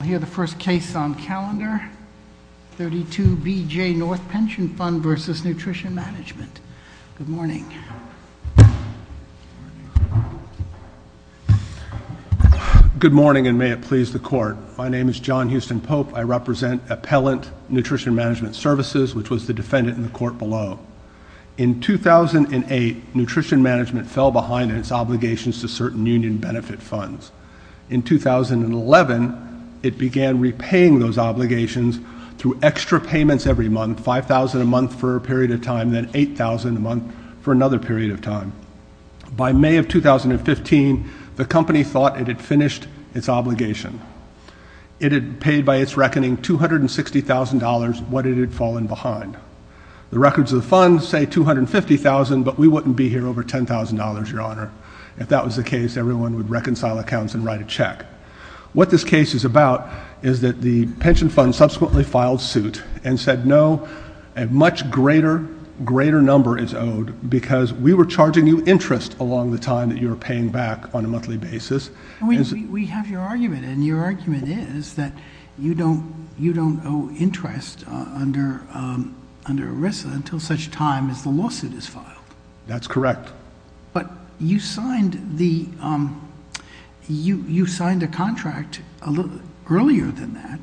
Good morning, and may it please the Court. My name is John Houston Pope. I represent Appellant Nutrition Management Services, which was the defendant in the court below. In 2008, Nutrition Management fell behind in its obligations to certain union benefit funds. In 2011, it began repaying those obligations through extra payments every month, $5,000 a month for a period of time, then $8,000 a month for another period of time. By May of 2015, the company thought it had finished its obligation. It had paid by its reckoning $260,000, what it had fallen behind. The records of the fund say $250,000, but we wouldn't be here over $10,000, Your Honor. If that was the case, everyone would reconcile accounts and write a check. What this case is about is that the pension fund subsequently filed suit and said, no, a much greater number is owed because we were charging you interest along the time that you were paying back on a monthly basis. We have your argument, and your argument is that you don't owe interest under ERISA until such time as the lawsuit is filed. That's correct. But you signed a contract earlier than that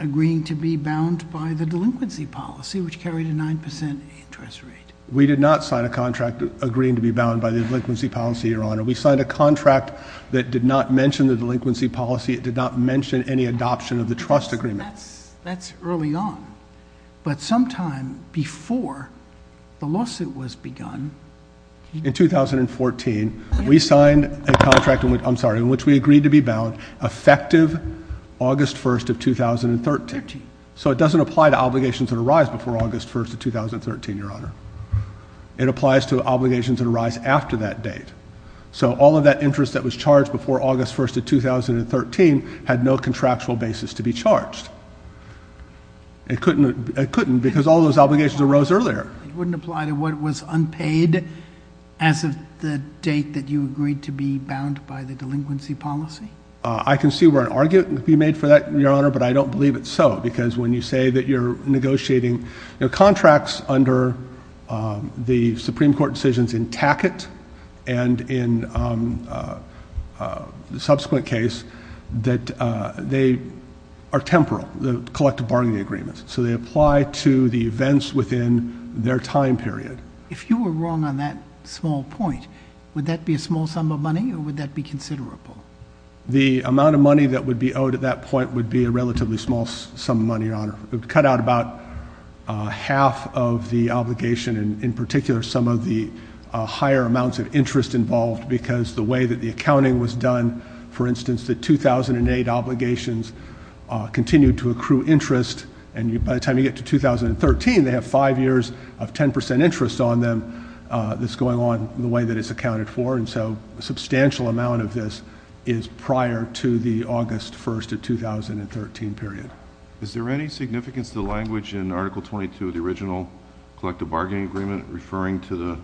agreeing to be bound by the delinquency policy, which carried a 9% interest rate. We did not sign a contract agreeing to be bound by the delinquency policy, Your Honor. We signed a contract that did not mention the delinquency policy. It did not mention any adoption of the trust agreement. That's early on, but sometime before the lawsuit was begun... In 2014, we signed a contract in which we agreed to be bound effective August 1st of 2013. So it doesn't apply to obligations that arise before August 1st of 2013, Your Honor. It applies to obligations that arise after that date. So all of that interest that was charged before August 1st of 2013 had no contractual basis to be charged. It couldn't because all those obligations arose earlier. It wouldn't apply to what was unpaid as of the date that you agreed to be bound by the delinquency policy? I can see where an argument could be made for that, Your Honor, but I don't believe it's so. Because when you say that you're negotiating contracts under the Supreme Court decisions in Tackett and in the subsequent case, that they are temporal, the collective bargaining agreements. So they apply to the events within their time period. If you were wrong on that small point, would that be a small sum of money or would that be considerable? The amount of money that would be owed at that point would be a relatively small sum of money, Your Honor. It would cut out about half of the obligation and, in particular, some of the higher amounts of interest involved because the way that the accounting was done, for instance, the 2008 obligations continued to accrue interest. And by the time you get to 2013, they have five years of 10 percent interest on them that's going on the way that it's accounted for. And so a substantial amount of this is prior to the August 1st of 2013 period. Is there any significance to the language in Article 22 of the original collective bargaining agreement referring to the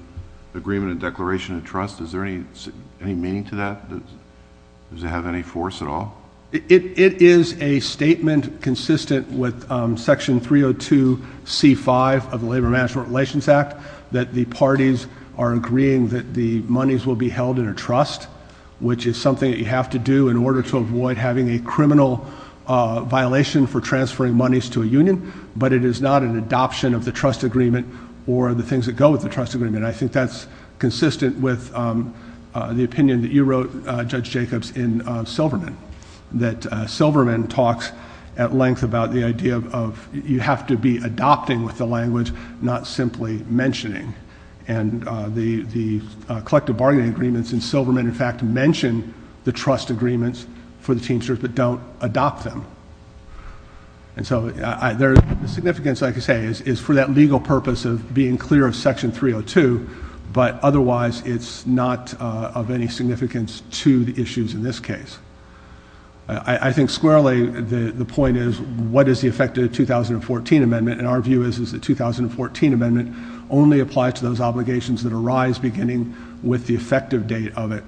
agreement and declaration of trust? Is there any meaning to that? Does it have any force at all? It is a statement consistent with Section 302C5 of the Labor Management Relations Act that the parties are agreeing that the monies will be held in a trust, which is something that you have to do in order to avoid having a criminal violation for transferring monies to a union, but it is not an adoption of the trust agreement or the things that go with the trust agreement. And I think that's consistent with the opinion that you wrote, Judge Jacobs, in Silverman, that Silverman talks at length about the idea of you have to be adopting with the language, not simply mentioning. And the collective bargaining agreements in Silverman, in fact, mention the trust agreements for the teamsters but don't adopt them. And so the significance, like I say, is for that legal purpose of being clear of Section 302, but otherwise it's not of any significance to the issues in this case. I think squarely the point is what is the effect of the 2014 amendment, and our view is that the 2014 amendment only applies to those obligations that arise beginning with the effective date of it.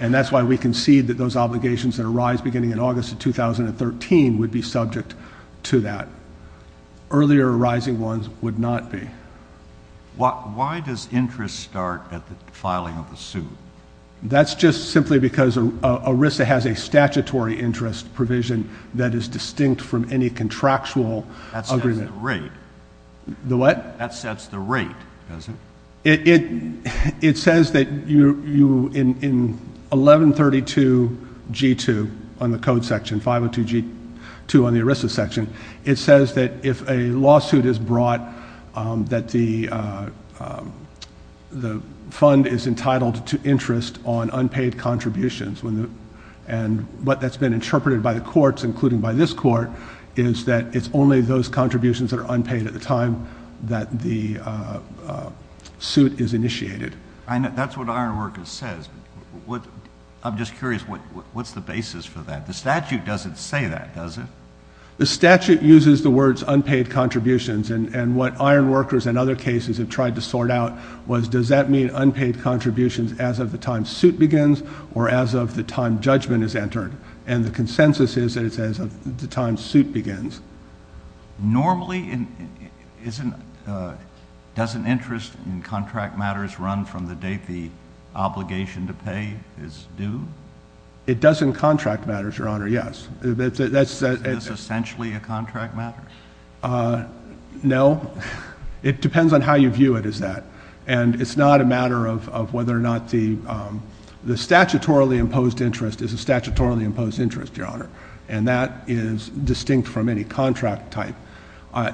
And that's why we concede that those obligations that arise beginning in August of 2013 would be subject to that. Earlier arising ones would not be. Why does interest start at the filing of the suit? That's just simply because ERISA has a statutory interest provision that is distinct from any contractual agreement. That sets the rate. The what? That sets the rate, does it? It says that in 1132G2 on the code section, 502G2 on the ERISA section, it says that if a lawsuit is brought that the fund is entitled to interest on unpaid contributions, and what that's been interpreted by the courts, including by this court, is that it's only those contributions that are unpaid at the time that the suit is initiated. That's what Ironworkers says. I'm just curious, what's the basis for that? The statute doesn't say that, does it? The statute uses the words unpaid contributions, and what Ironworkers and other cases have tried to sort out was does that mean unpaid contributions as of the time suit begins or as of the time judgment is entered? And the consensus is that it's as of the time suit begins. Normally, doesn't interest in contract matters run from the date the obligation to pay is due? It does in contract matters, Your Honor, yes. Is this essentially a contract matter? No. It depends on how you view it as that. And it's not a matter of whether or not the statutorily imposed interest is a statutorily imposed interest, Your Honor, and that is distinct from any contract type.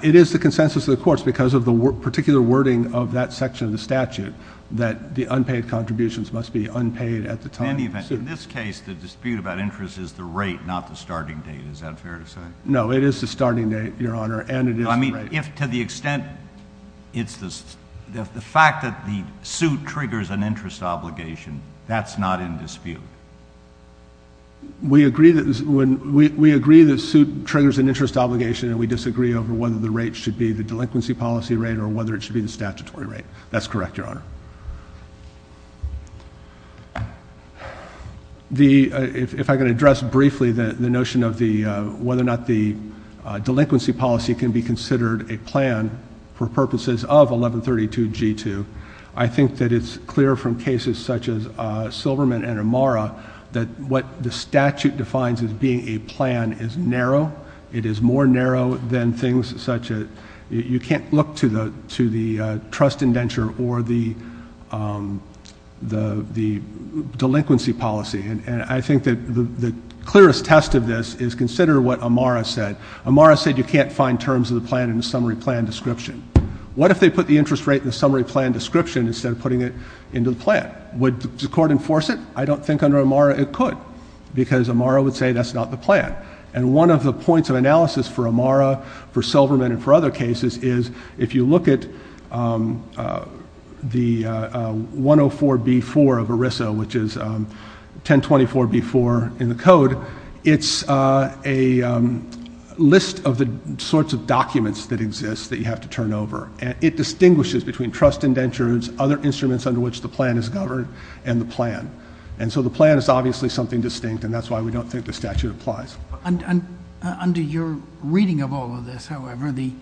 It is the consensus of the courts because of the particular wording of that section of the statute that the unpaid contributions must be unpaid at the time. In this case, the dispute about interest is the rate, not the starting date. Is that fair to say? No, it is the starting date, Your Honor, and it is the rate. So, I mean, if to the extent it's the fact that the suit triggers an interest obligation, that's not in dispute? We agree that the suit triggers an interest obligation, and we disagree over whether the rate should be the delinquency policy rate or whether it should be the statutory rate. That's correct, Your Honor. If I can address briefly the notion of whether or not the delinquency policy can be considered a plan for purposes of 1132 G2, I think that it's clear from cases such as Silverman and Amara that what the statute defines as being a plan is narrow. It is more narrow than things such as you can't look to the trust indenture or the delinquency policy, and I think that the clearest test of this is consider what Amara said. Amara said you can't find terms of the plan in the summary plan description. What if they put the interest rate in the summary plan description instead of putting it into the plan? Would the court enforce it? I don't think under Amara it could because Amara would say that's not the plan, and one of the points of analysis for Amara, for Silverman, and for other cases is if you look at the 104B4 of ERISA, which is 1024B4 in the code, it's a list of the sorts of documents that exist that you have to turn over, and it distinguishes between trust indentures, other instruments under which the plan is governed, and the plan. And so the plan is obviously something distinct, and that's why we don't think the statute applies. Under your reading of all of this, however, the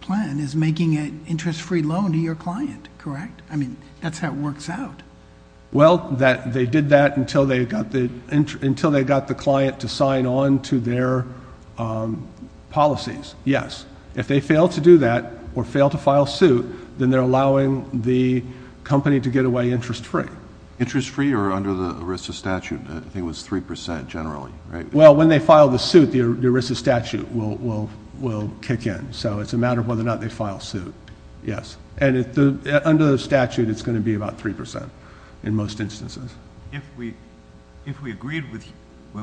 plan is making an interest-free loan to your client, correct? I mean, that's how it works out. Well, they did that until they got the client to sign on to their policies, yes. If they fail to do that or fail to file suit, then they're allowing the company to get away interest-free. Interest-free or under the ERISA statute? I think it was 3% generally, right? Well, when they file the suit, the ERISA statute will kick in, so it's a matter of whether or not they file suit, yes. And under the statute, it's going to be about 3% in most instances. If we agreed with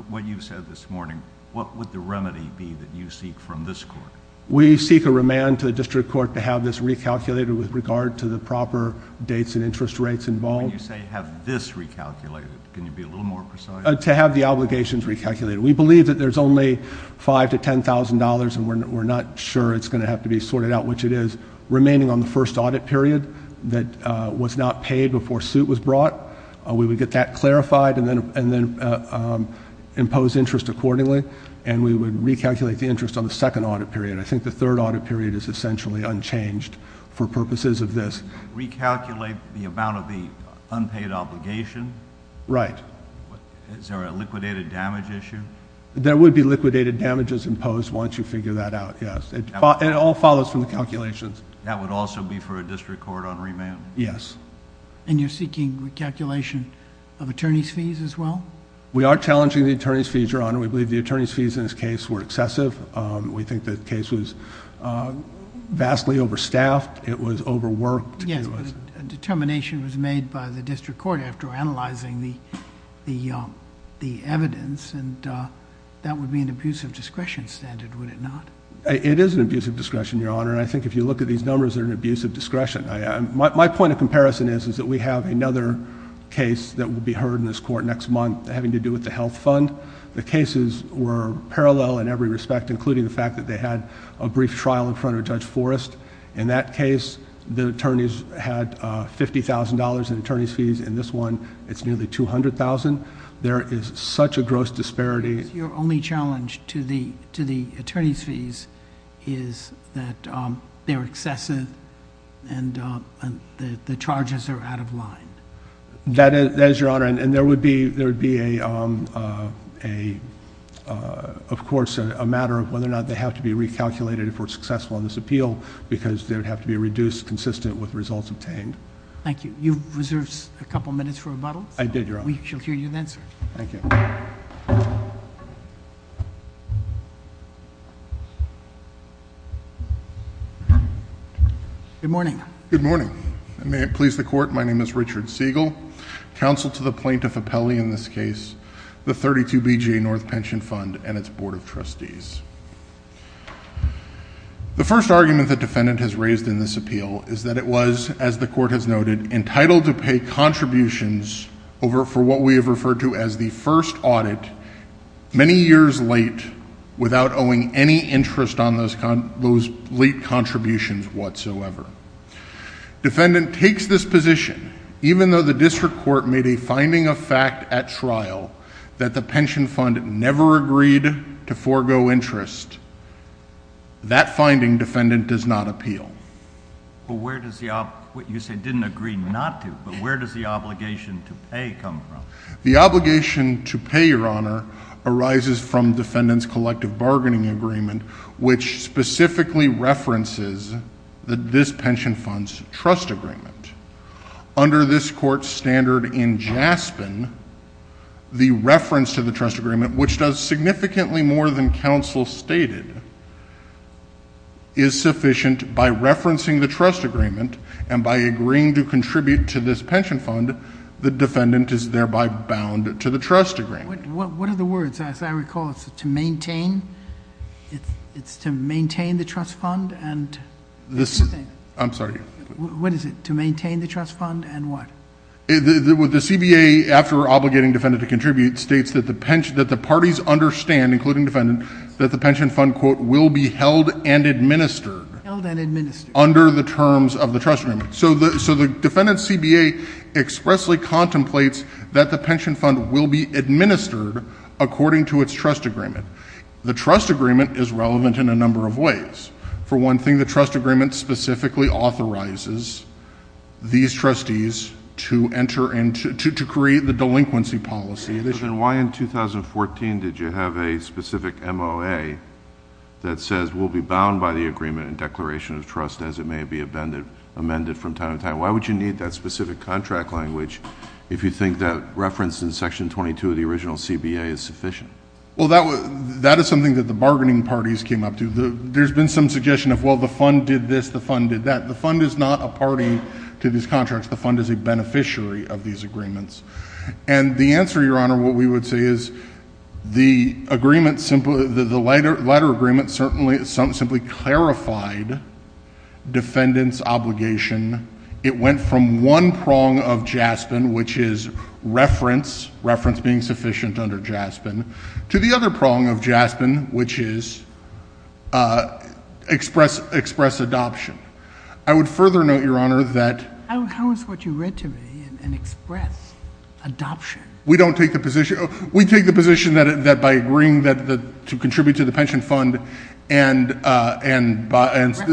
what you said this morning, what would the remedy be that you seek from this court? We seek a remand to the district court to have this recalculated with regard to the proper dates and interest rates involved. When you say have this recalculated, can you be a little more precise? To have the obligations recalculated. We believe that there's only $5,000 to $10,000, and we're not sure it's going to have to be sorted out, which it is, remaining on the first audit period that was not paid before suit was brought. We would get that clarified and then impose interest accordingly, and we would recalculate the interest on the second audit period. I think the third audit period is essentially unchanged for purposes of this. Recalculate the amount of the unpaid obligation? Right. Is there a liquidated damage issue? There would be liquidated damages imposed once you figure that out, yes. It all follows from the calculations. That would also be for a district court on remand? Yes. And you're seeking recalculation of attorney's fees as well? We are challenging the attorney's fees, Your Honor. We believe the attorney's fees in this case were excessive. We think the case was vastly overstaffed. It was overworked. Yes, but a determination was made by the district court after analyzing the evidence, and that would be an abusive discretion standard, would it not? It is an abusive discretion, Your Honor, and I think if you look at these numbers, they're an abusive discretion. My point of comparison is that we have another case that will be heard in this court next month having to do with the health fund. The cases were parallel in every respect, including the fact that they had a brief trial in front of Judge Forrest. In that case, the attorneys had $50,000 in attorney's fees. In this one, it's nearly $200,000. There is such a gross disparity. Your only challenge to the attorney's fees is that they're excessive and the charges are out of line? That is, Your Honor, and there would be, of course, a matter of whether or not they have to be recalculated for successful in this appeal because they would have to be reduced consistent with results obtained. Thank you. You've reserved a couple minutes for rebuttal. I did, Your Honor. We shall hear you then, sir. Thank you. Good morning. Good morning. May it please the court, my name is Richard Siegel. Counsel to the plaintiff appellee in this case, the 32BJ North Pension Fund and its Board of Trustees. The first argument the defendant has raised in this appeal is that it was, as the court has noted, entitled to pay contributions for what we have referred to as the first audit many years late without owing any interest on those late contributions whatsoever. Defendant takes this position even though the district court made a finding of fact at trial that the pension fund never agreed to forego interest. That finding, defendant, does not appeal. But where does the... you say didn't agree not to, but where does the obligation to pay come from? The obligation to pay, Your Honor, arises from defendant's collective bargaining agreement which specifically references this pension fund's trust agreement. Under this court's standard in Jaspin, the reference to the trust agreement, which does significantly more than counsel stated, is sufficient by referencing the trust agreement and by agreeing to contribute to this pension fund, the defendant is thereby bound to the trust agreement. What are the words? As I recall, it's to maintain? It's to maintain the trust fund and... I'm sorry. What is it? To maintain the trust fund and what? The CBA, after obligating defendant to contribute, states that the parties understand, including defendant, that the pension fund, quote, will be held and administered... Held and administered.... under the terms of the trust agreement. So the defendant's CBA expressly contemplates that the pension fund will be administered according to its trust agreement. The trust agreement is relevant in a number of ways. For one thing, the trust agreement specifically authorizes these trustees to enter into... to create the delinquency policy. Then why in 2014 did you have a specific MOA that says, the defendant will be bound by the agreement and declaration of trust as it may be amended from time to time? Why would you need that specific contract language if you think that reference in Section 22 of the original CBA is sufficient? Well, that is something that the bargaining parties came up to. There's been some suggestion of, well, the fund did this, the fund did that. The fund is not a party to these contracts. The fund is a beneficiary of these agreements. And the answer, Your Honor, what we would say is the agreement simply... the letter agreement certainly... simply clarified defendant's obligation. It went from one prong of JASPIN, which is reference, reference being sufficient under JASPIN, to the other prong of JASPIN, which is express adoption. I would further note, Your Honor, that... How is what you read to me an express adoption? We don't take the position... We take the position that by agreeing to contribute to the pension fund and... References.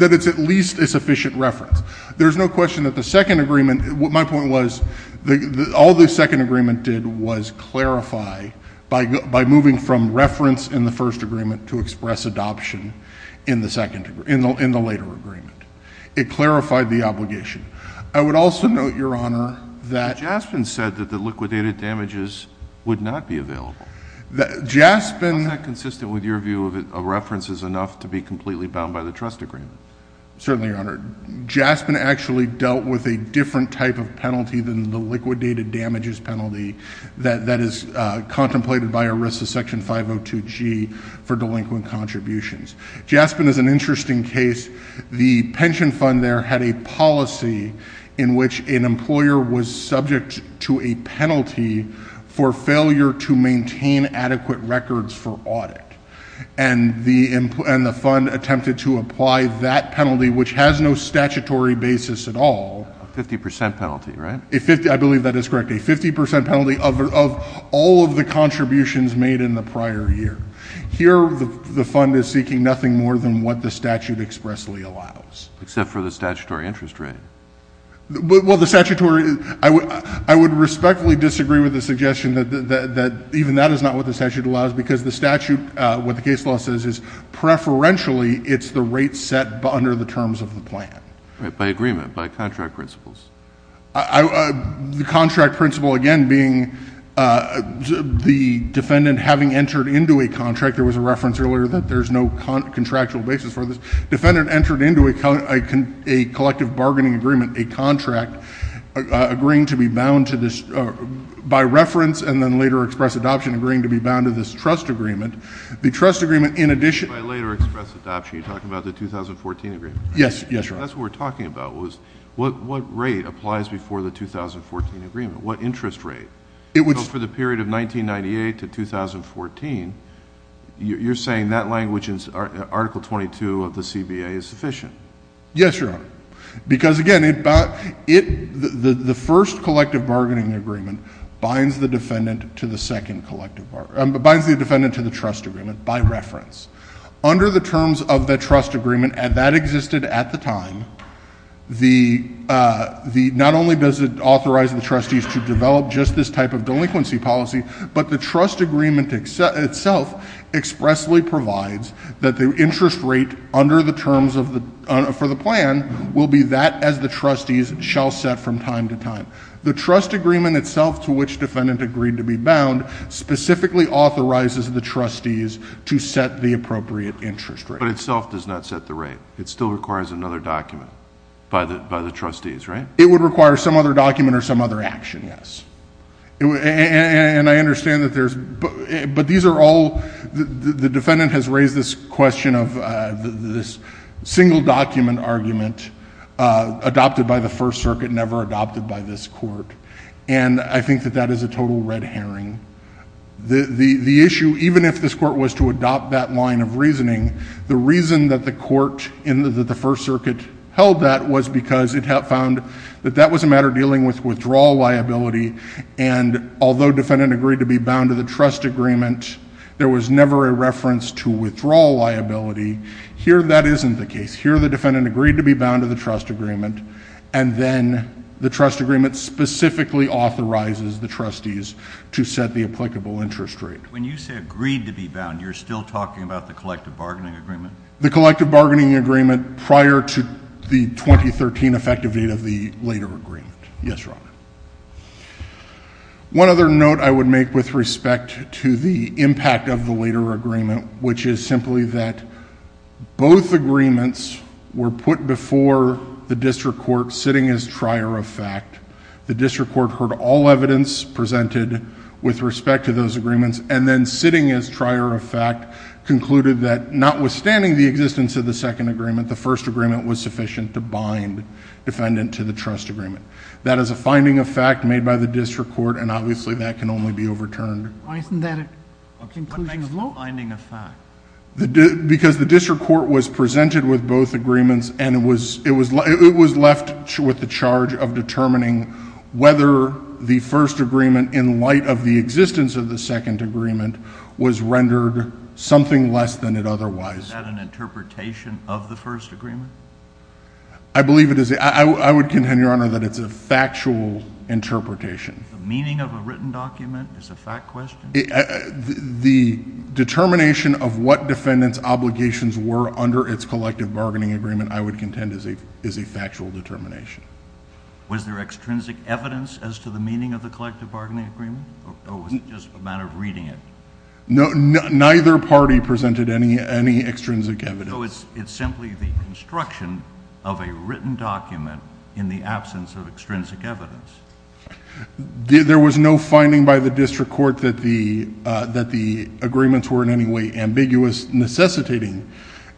That it's at least a sufficient reference. There's no question that the second agreement... My point was, all the second agreement did was clarify by moving from reference in the first agreement to express adoption in the later agreement. It clarified the obligation. I would also note, Your Honor, that... JASPIN said that the liquidated damages would not be available. JASPIN... How is that consistent with your view that a reference is enough to be completely bound by the trust agreement? Certainly, Your Honor. JASPIN actually dealt with a different type of penalty than the liquidated damages penalty that is contemplated by ERISA Section 502G for delinquent contributions. JASPIN is an interesting case. The pension fund there had a policy in which an employer was subject to a penalty for failure to maintain adequate records for audit. And the fund attempted to apply that penalty, which has no statutory basis at all... A 50 percent penalty, right? I believe that is correct. A 50 percent penalty of all of the contributions made in the prior year. Here, the fund is seeking nothing more than what the statute expressly allows. Except for the statutory interest rate. Well, the statutory... I would respectfully disagree with the suggestion that even that is not what the statute allows because the statute, what the case law says is preferentially it's the rate set under the terms of the plan. By agreement, by contract principles. The contract principle again being the defendant having entered into a contract. There was a reference earlier that there's no contractual basis for this. Defendant entered into a collective bargaining agreement, a contract, agreeing to be bound to this... by reference and then later express adoption agreeing to be bound to this trust agreement. The trust agreement in addition... By later express adoption, you're talking about the 2014 agreement? Yes. Yes, Your Honor. That's what we're talking about was what rate applies before the 2014 agreement? What interest rate? For the period of 1998 to 2014, you're saying that language in Article 22 of the CBA is sufficient? Yes, Your Honor. Because again, the first collective bargaining agreement binds the defendant to the second collective... binds the defendant to the trust agreement by reference. Under the terms of the trust agreement and that existed at the time... the, not only does it authorize the trustees to develop just this type of delinquency policy... but the trust agreement itself expressly provides that the interest rate under the terms of the... for the plan will be that as the trustees shall set from time to time. The trust agreement itself to which defendant agreed to be bound... But itself does not set the rate. It still requires another document by the trustees, right? It would require some other document or some other action, yes. And, I understand that there's... but these are all... the defendant has raised this question of this single document argument adopted by the First Circuit... never adopted by this court. And, I think that that is a total red herring. The issue, even if this court was to adopt that line of reasoning... the reason that the court in the First Circuit held that was because it had found... that that was a matter dealing with withdrawal liability. And, although defendant agreed to be bound to the trust agreement... there was never a reference to withdrawal liability. Here, that isn't the case. Here, the defendant agreed to be bound to the trust agreement... When you say agreed to be bound, you're still talking about the collective bargaining agreement? The collective bargaining agreement prior to the 2013 effective date of the later agreement. Yes, Your Honor. One other note I would make with respect to the impact of the later agreement... which is simply that both agreements were put before the district court, sitting as trier of fact. The district court heard all evidence presented with respect to those agreements... and then sitting as trier of fact, concluded that notwithstanding the existence of the second agreement... the first agreement was sufficient to bind defendant to the trust agreement. That is a finding of fact made by the district court and obviously that can only be overturned. Why isn't that a conclusion of law? What makes the finding of fact? Because the district court was presented with both agreements and it was... whether the first agreement in light of the existence of the second agreement... was rendered something less than it otherwise. Is that an interpretation of the first agreement? I believe it is. I would contend, Your Honor, that it's a factual interpretation. The meaning of a written document is a fact question? The determination of what defendant's obligations were under its collective bargaining agreement... I would contend is a factual determination. Was there extrinsic evidence as to the meaning of the collective bargaining agreement? Or was it just a matter of reading it? No, neither party presented any extrinsic evidence. So, it's simply the construction of a written document in the absence of extrinsic evidence? There was no finding by the district court that the agreements were in any way ambiguous... necessitating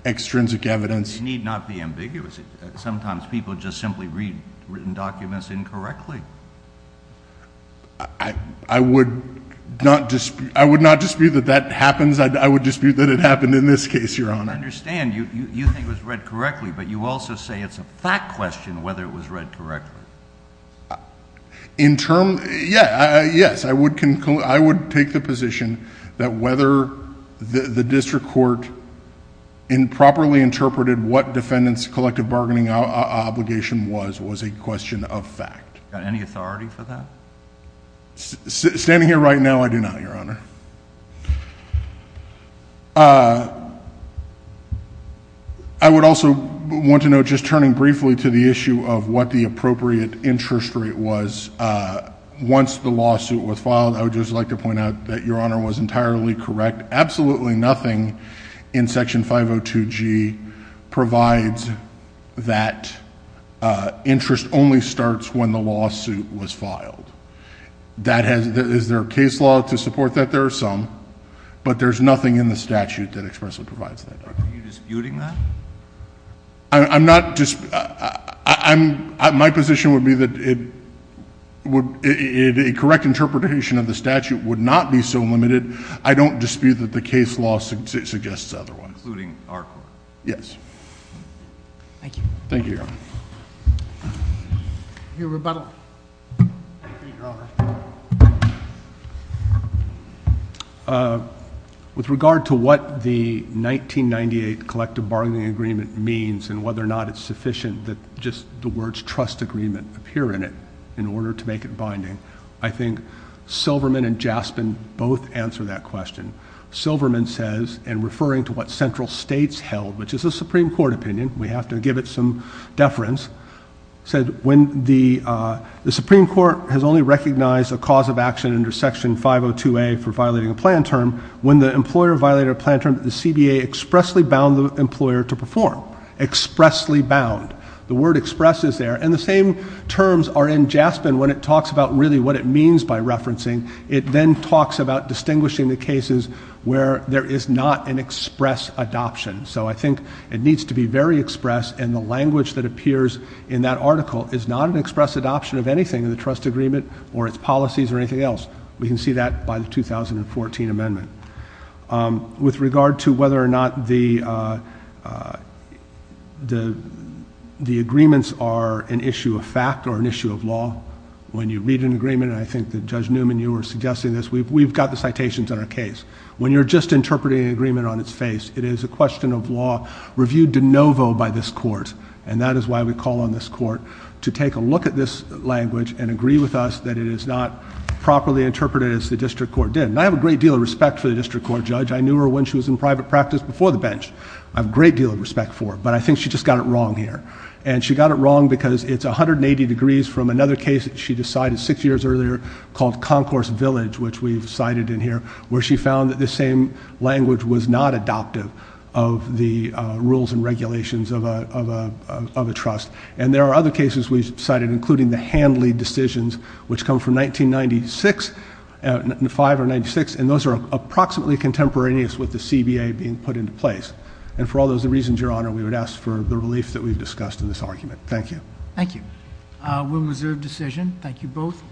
extrinsic evidence. They need not be ambiguous. Sometimes people just simply read written documents incorrectly. I would not dispute that that happens. I would dispute that it happened in this case, Your Honor. I understand. You think it was read correctly. But, you also say it's a fact question whether it was read correctly. In term... yeah, yes. I would take the position that whether the district court improperly interpreted... what the collective bargaining obligation was, was a question of fact. Got any authority for that? Standing here right now, I do not, Your Honor. I would also want to note, just turning briefly to the issue of what the appropriate interest rate was... once the lawsuit was filed, I would just like to point out that Your Honor was entirely correct. Absolutely nothing in Section 502G provides that interest only starts when the lawsuit was filed. That has... is there a case law to support that? There are some, but there's nothing in the statute that expressly provides that. Are you disputing that? I'm not... I'm... my position would be that it would... a correct interpretation of the statute would not be so limited. I don't dispute that the case law suggests otherwise. Including our court? Yes. Thank you. Your rebuttal. Thank you, Your Honor. With regard to what the 1998 collective bargaining agreement means and whether or not it's sufficient that just the words appear in it in order to make it binding, I think Silverman and Jaspin both answer that question. Silverman says, and referring to what central states held, which is the Supreme Court opinion... we have to give it some deference... said when the... the Supreme Court has only recognized a cause of action under Section 502A for violating a plan term... when the employer violated a plan term, the CBA expressly bound the employer to perform. Expressly bound. The word express is there and the same terms are in Jaspin when it talks about really what it means by referencing. It then talks about distinguishing the cases where there is not an express adoption. So, I think it needs to be very express and the language that appears in that article is not an express adoption of anything in the trust agreement... or its policies or anything else. We can see that by the 2014 amendment. With regard to whether or not the... the agreements are an issue of fact or an issue of law... when you read an agreement, I think that Judge Newman, you were suggesting this. We've got the citations in our case. When you're just interpreting an agreement on its face, it is a question of law reviewed de novo by this court. And that is why we call on this court to take a look at this language and agree with us that it is not properly interpreted as the district court did. And, I have a great deal of respect for the district court judge. I knew her when she was in private practice before the bench. I have a great deal of respect for her, but I think she just got it wrong here. And, she got it wrong because it's 180 degrees from another case that she decided six years earlier called Concourse Village... which we've cited in here, where she found that the same language was not adoptive of the rules and regulations of a trust. And, there are other cases we've cited, including the Handley decisions, which come from 1996... 5 or 96, and those are approximately contemporaneous with the CBA being put into place. And, for all those reasons, Your Honor, we would ask for the relief that we've discussed in this argument. Thank you. Thank you. William Reserve decision. Thank you both.